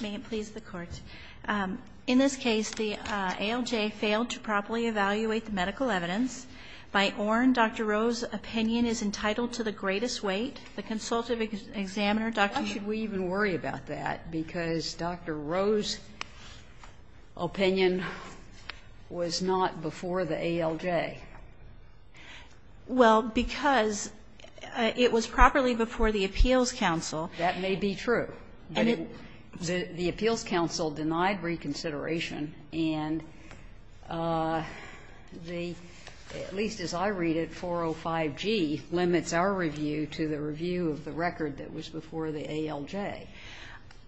May it please the Court, in this case, the ALJ failed to properly evaluate the medical evidence. By Orne, Dr. Rowe's opinion is entitled to the greatest weight. The consultative examiner, Dr. Rowe. Why should we even worry about that? Because Dr. Rowe's opinion was not before the ALJ. Well, because it was properly before the appeals counsel. That may be true. The appeals counsel denied reconsideration and the, at least as I read it, 405G limits our review to the review of the record that was before the ALJ.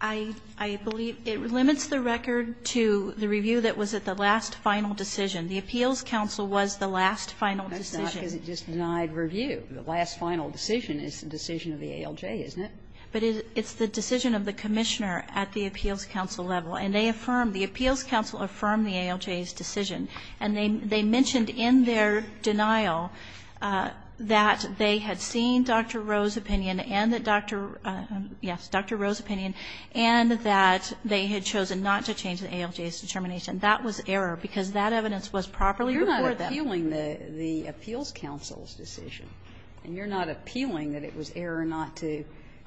I believe it limits the record to the review that was at the last final decision. The appeals counsel was the last final decision. That's not because it just denied review. The last final decision is the decision of the ALJ, isn't it? But it's the decision of the commissioner at the appeals counsel level. And they affirmed, the appeals counsel affirmed the ALJ's decision. And they mentioned in their denial that they had seen Dr. Rowe's opinion and that Dr. Rowe's opinion, and that they had chosen not to change the ALJ's determination. That was error, because that evidence was properly before them. You're not appealing the appeals counsel's decision, and you're not appealing that it was error not to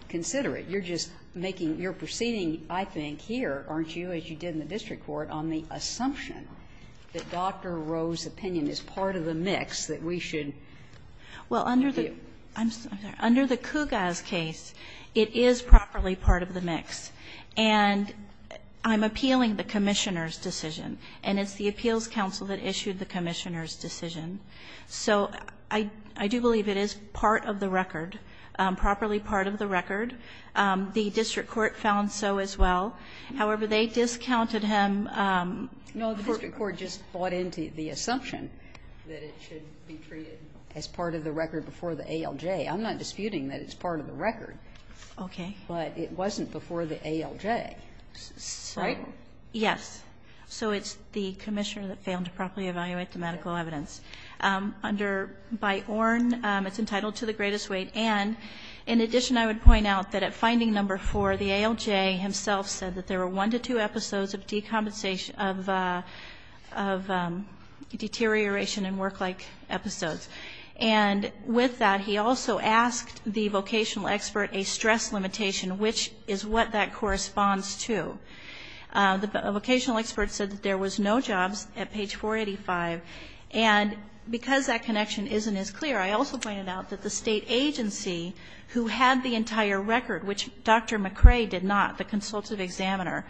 consider it. You're just making, you're proceeding, I think, here, aren't you, as you did in the district court, on the assumption that Dr. Rowe's opinion is part of the mix, that we should review. Well, under the, I'm sorry, under the Kugas case, it is properly part of the mix. And I'm appealing the commissioner's decision, and it's the appeals counsel that issued the commissioner's decision. So I do believe it is part of the record, properly part of the record. The district court found so as well. However, they discounted him. No, the district court just bought into the assumption that it should be treated as part of the record before the ALJ. I'm not disputing that it's part of the record. Okay. But it wasn't before the ALJ, right? Yes. So it's the commissioner that failed to properly evaluate the medical evidence. Under, by Ornn, it's entitled to the greatest weight. And in addition, I would point out that at finding number four, the ALJ himself said that there were one to two episodes of decompensation, of deterioration and work-like episodes. And with that, he also asked the vocational expert a stress limitation, which is what that corresponds to. The vocational expert said that there was no jobs at page 485. And because that connection isn't as clear, I also pointed out that the state agency who had the entire record, which Dr. McRae did not, the consultative examiner,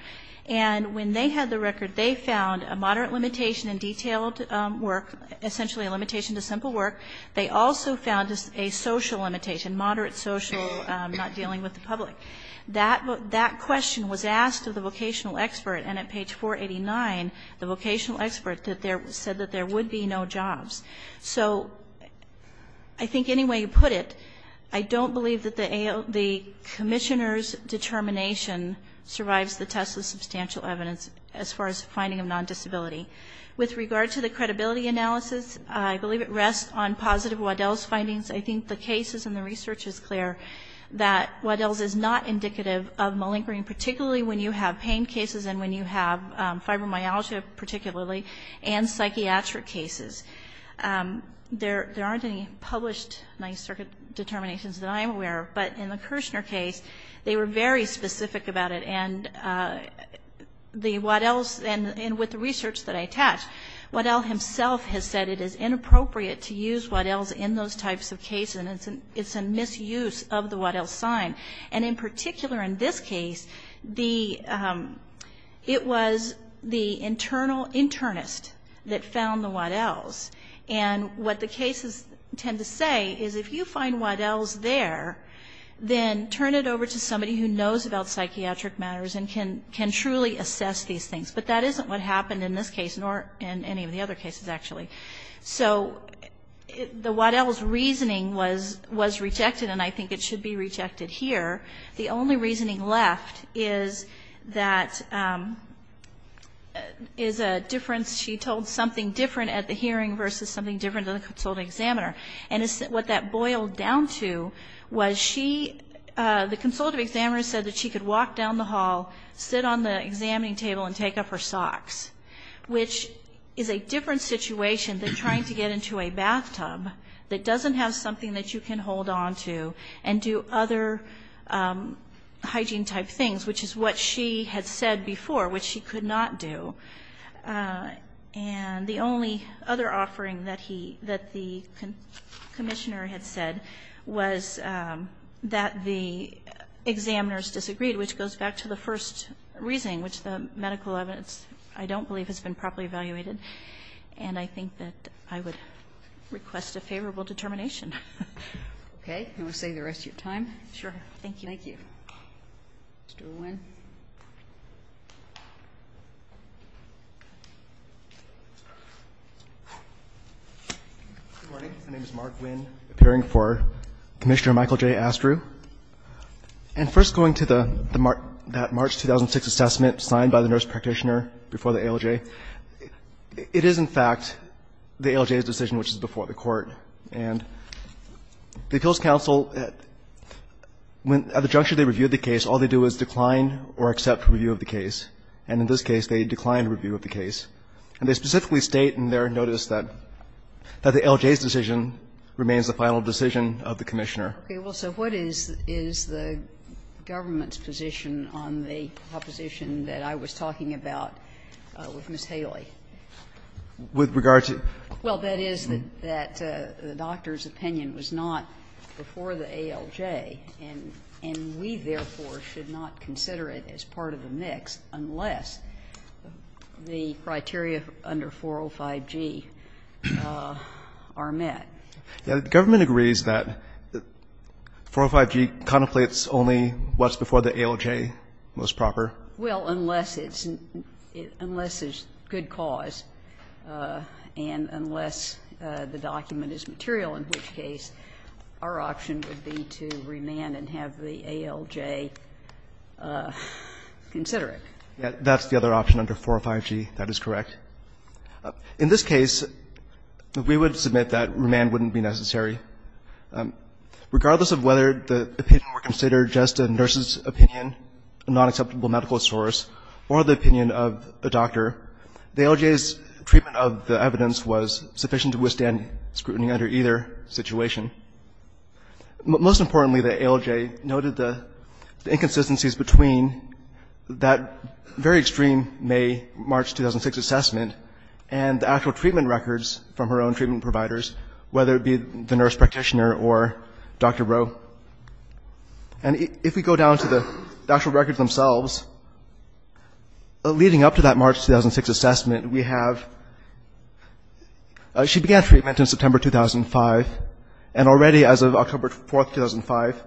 and when they had the record, they found a moderate limitation in detailed work, essentially a limitation to simple work. They also found a social limitation, moderate social, not dealing with the public. That question was asked of the vocational expert. And at page 489, the vocational expert said that there would be no jobs. So I think any way you put it, I don't believe that the commissioner's determination survives the test of substantial evidence as far as finding of non-disability. With regard to the credibility analysis, I believe it rests on positive Waddell's findings. I think the cases and the research is clear that Waddell's is not indicative of malingering, particularly when you have pain cases and when you have fibromyalgia, particularly, and psychiatric cases. There aren't any published Ninth Circuit determinations that I'm aware of. But in the Kirshner case, they were very specific about it. And the Waddell's, and with the research that I attached, Waddell himself has said it is inappropriate to use Waddell's in those types of cases. And it's a misuse of the Waddell's sign. And in particular in this case, it was the internal internist that found the Waddell's. And what the cases tend to say is if you find Waddell's there, then turn it over to somebody who knows about psychiatric matters and can truly assess these things. But that isn't what happened in this case, nor in any of the other cases, actually. So the Waddell's reasoning was rejected, and I think it should be rejected here. The only reasoning left is that is a difference. She told something different at the hearing versus something different to the consultative examiner. And what that boiled down to was she, the consultative examiner said that she could walk down the hall, sit on the examining table, and take off her socks, which is a different situation than trying to get into a bathtub that doesn't have something that you can hold on to, and do other hygiene-type things, which is what she had said before, which she could not do. And the only other offering that the commissioner had said was that the examiners disagreed, which goes back to the first reasoning, which the medical evidence, I don't believe, has been properly evaluated. And I think that I would request a favorable determination. Okay. I'm going to save the rest of your time. Sure. Thank you. Thank you. My name is Mark Winn, appearing for Commissioner Michael J. Astrew. And first going to that March 2006 assessment signed by the nurse practitioner before the ALJ, it is, in fact, the ALJ's decision, which is before the Court. And the Appeals Council, at the juncture they reviewed the case, all they do is decline or accept review of the case. And in this case, they declined review of the case. And they specifically state in their notice that the ALJ's decision remains the final decision of the commissioner. Okay. Well, so what is the government's position on the proposition that I was talking about with Ms. Haley? With regard to? Well, that is that the doctor's opinion was not before the ALJ, and we, therefore, should not consider it as part of the mix unless the criteria under 405G are met. The government agrees that 405G contemplates only what's before the ALJ most proper. Well, unless it's unless it's good cause and unless the document is material, in which case our option would be to remand and have the ALJ consider it. That's the other option under 405G. That is correct. In this case, we would submit that remand wouldn't be necessary. Regardless of whether the opinion were considered just a nurse's opinion, a nonacceptable medical source, or the opinion of a doctor, the ALJ's treatment of the evidence was sufficient to withstand scrutiny under either situation. Most importantly, the ALJ noted the inconsistencies between that very extreme May-March 2006 assessment and the actual treatment records from her own treatment providers, whether it be the nurse practitioner or Dr. Rowe. And if we go down to the actual records themselves, leading up to that March 2006 assessment, we have she began treatment in September 2005, and already as of October 4, 2005.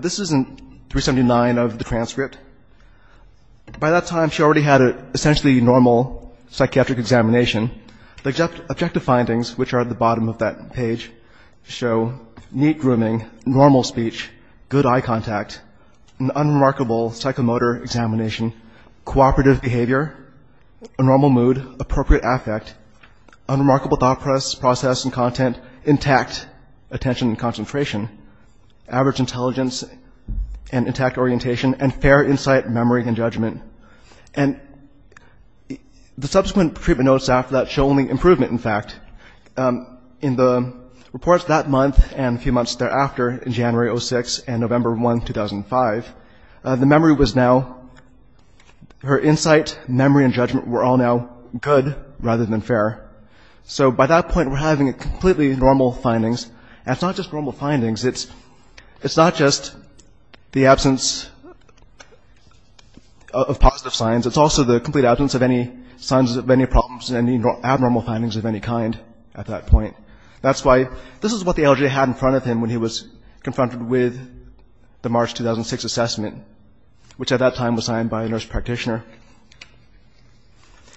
This is in 379 of the transcript. By that time, she already had an essentially normal psychiatric examination. The objective findings, which are at the bottom of that page, show neat grooming, normal speech, good eye contact, an unremarkable psychomotor examination, cooperative behavior, a normal mood, appropriate affect, unremarkable thought process and content, intact attention and concentration, average intelligence and intact orientation, and fair insight, memory, and judgment. And the subsequent treatment notes after that show only improvement, in fact. In the reports that month and a few months thereafter, in January 2006 and November 1, 2005, the memory was now, her insight, memory, and judgment were all now good rather than fair. So, by that point, we're having completely normal findings, and it's not just normal positive signs. It's also the complete absence of any signs of any problems, any abnormal findings of any kind at that point. That's why this is what the LJ had in front of him when he was confronted with the March 2006 assessment, which at that time was signed by a nurse practitioner.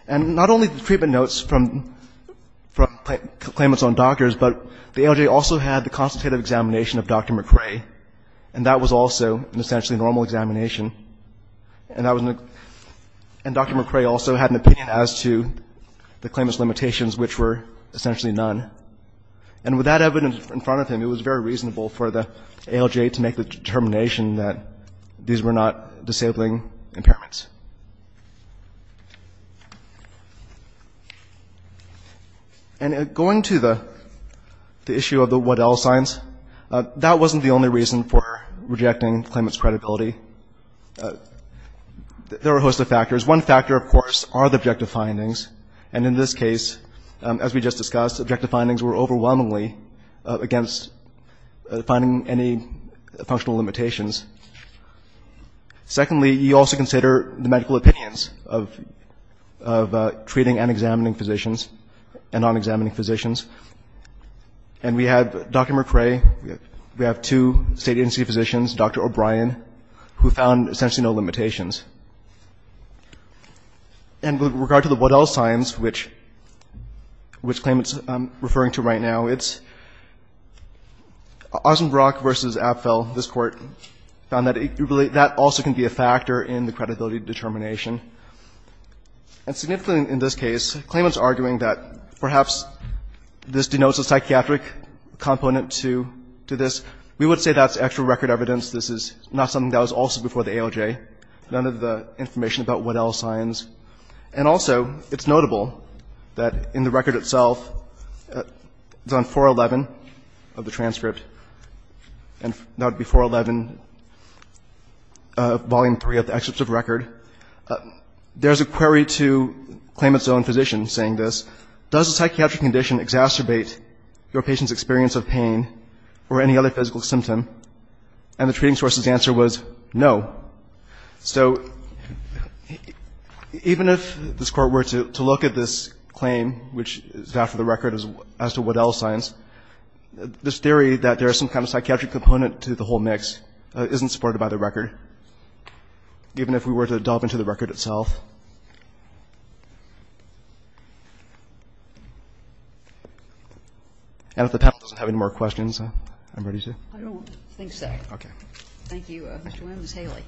And not only the treatment notes from claimants on doctors, but the LJ also had the constitutive examination of Dr. McRae, and that was also an essentially normal examination. And Dr. McRae also had an opinion as to the claimant's limitations, which were essentially none. And with that evidence in front of him, it was very reasonable for the ALJ to make the determination that these were not disabling impairments. And going to the issue of the Waddell signs, that wasn't the only reason for rejecting the claimant's credibility. There were a host of factors. One factor, of course, are the objective findings. And in this case, as we just discussed, objective findings were overwhelmingly against finding any functional limitations. Secondly, you also consider the medical opinions of treating and examining physicians and non-examining physicians. And we have Dr. McRae, we have two state agency physicians, Dr. O'Brien, who found essentially no limitations. And with regard to the Waddell signs, which claimants are referring to right now, it's Ozenbrock v. Apfel, this Court, found that that also can be a factor in the credibility determination. And significantly in this case, claimants are arguing that perhaps this denotes a psychiatric component to this. We would say that's actual record evidence. This is not something that was also before the ALJ. None of the information about Waddell signs. And also, it's notable that in the record itself, it's on 411 of the transcript. And that would be 411, Volume 3 of the Excerpt of Record. There's a query to claimant's own physician saying this. Does a psychiatric condition exacerbate your patient's experience of pain or any other physical symptom? And the treating source's answer was no. So even if this Court were to look at this claim, which is after the record as to Waddell signs, this theory that there's some kind of psychiatric component to the whole mix isn't supported by the record. Given if we were to delve into the record itself. And if the panel doesn't have any more questions, I'm ready to. I don't think so. Okay. Thank you. Ms. Haley.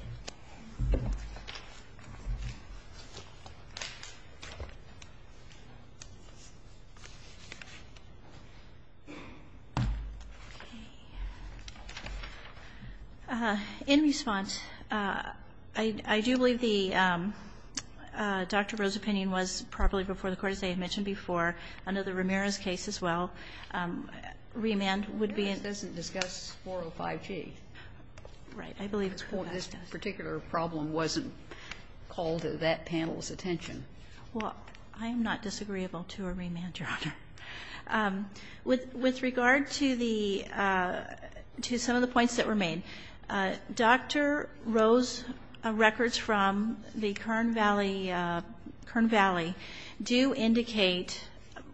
In response, I do believe the Dr. Rowe's opinion was properly before the Court, as I had mentioned before. Under the Ramirez case as well, remand would be. Ramirez doesn't discuss 405G. Right. It's 405G. Okay. And this particular problem wasn't called to that panel's attention. Well, I am not disagreeable to a remand, Your Honor. With regard to some of the points that were made, Dr. Rowe's records from the Kern Valley do indicate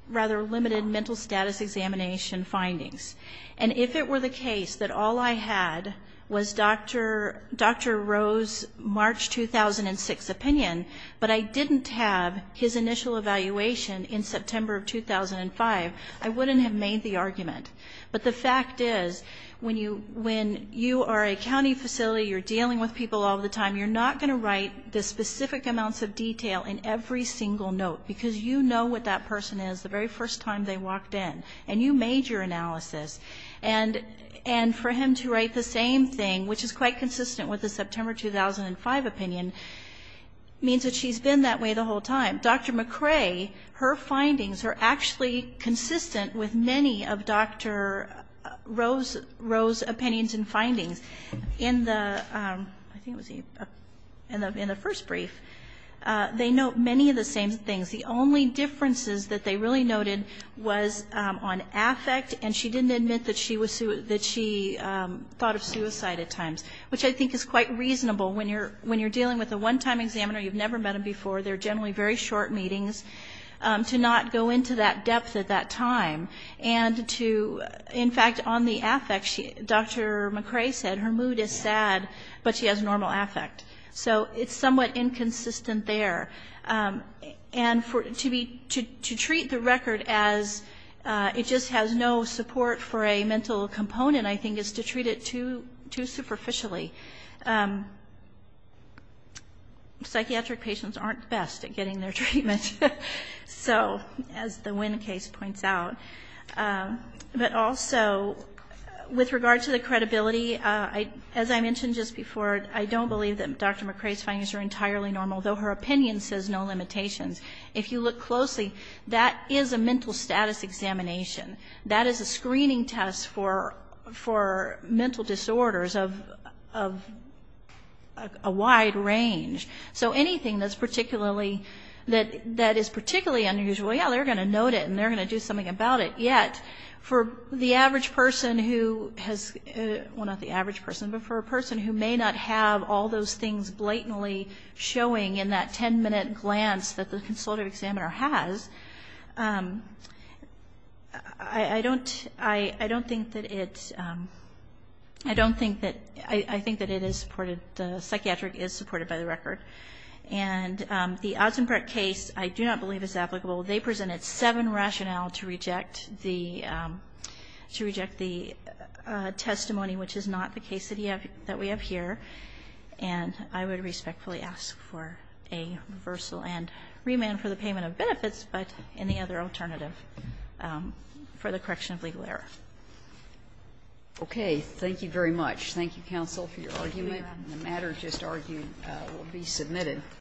rather limited mental status examination findings. And if it were the case that all I had was Dr. Rowe's March 2006 opinion, but I didn't have his initial evaluation in September of 2005, I wouldn't have made the argument. But the fact is, when you are a county facility, you're dealing with people all the time, you're not going to write the specific amounts of detail in every single note. Because you know what that person is the very first time they walked in. And you made your analysis. And for him to write the same thing, which is quite consistent with the September 2005 opinion, means that she's been that way the whole time. Dr. McRae, her findings are actually consistent with many of Dr. Rowe's opinions and findings. In the first brief, they note many of the same things. The only differences that they really noted was on affect, and she didn't admit that she thought of suicide at times. Which I think is quite reasonable when you're dealing with a one-time examiner, you've never met them before, they're generally very short meetings, to not go into that depth at that time. And to, in fact, on the affect, Dr. McRae said, her mood is sad, but she has normal affect. So it's somewhat inconsistent there. And to treat the record as it just has no support for a mental component, I think, is to treat it too superficially. Psychiatric patients aren't the best at getting their treatment. So, as the Wynn case points out. But also, with regard to the credibility, as I mentioned just before, I don't believe that Dr. McRae's findings are entirely normal, though her opinion says no limitations. If you look closely, that is a mental status examination. That is a screening test for mental disorders of a wide range. So anything that is particularly unusual, yeah, they're going to note it, and they're going to do something about it. Yet, for the average person who has, well, not the average person, but for a person who may not have all those things blatantly showing in that 10-minute glance that the consultative examiner has, I don't think that it's, I don't think that, I think that it is supported, the psychiatric is supported by the record. And the Atzenberg case, I do not believe is applicable. They presented seven rationale to reject the testimony, which is not the case that we have here, and I would respectfully ask for a reversal and remand for the payment of benefits, but any other alternative for the correction of legal error. Okay, thank you very much. Thank you, counsel, for your argument. The matter just argued will be submitted.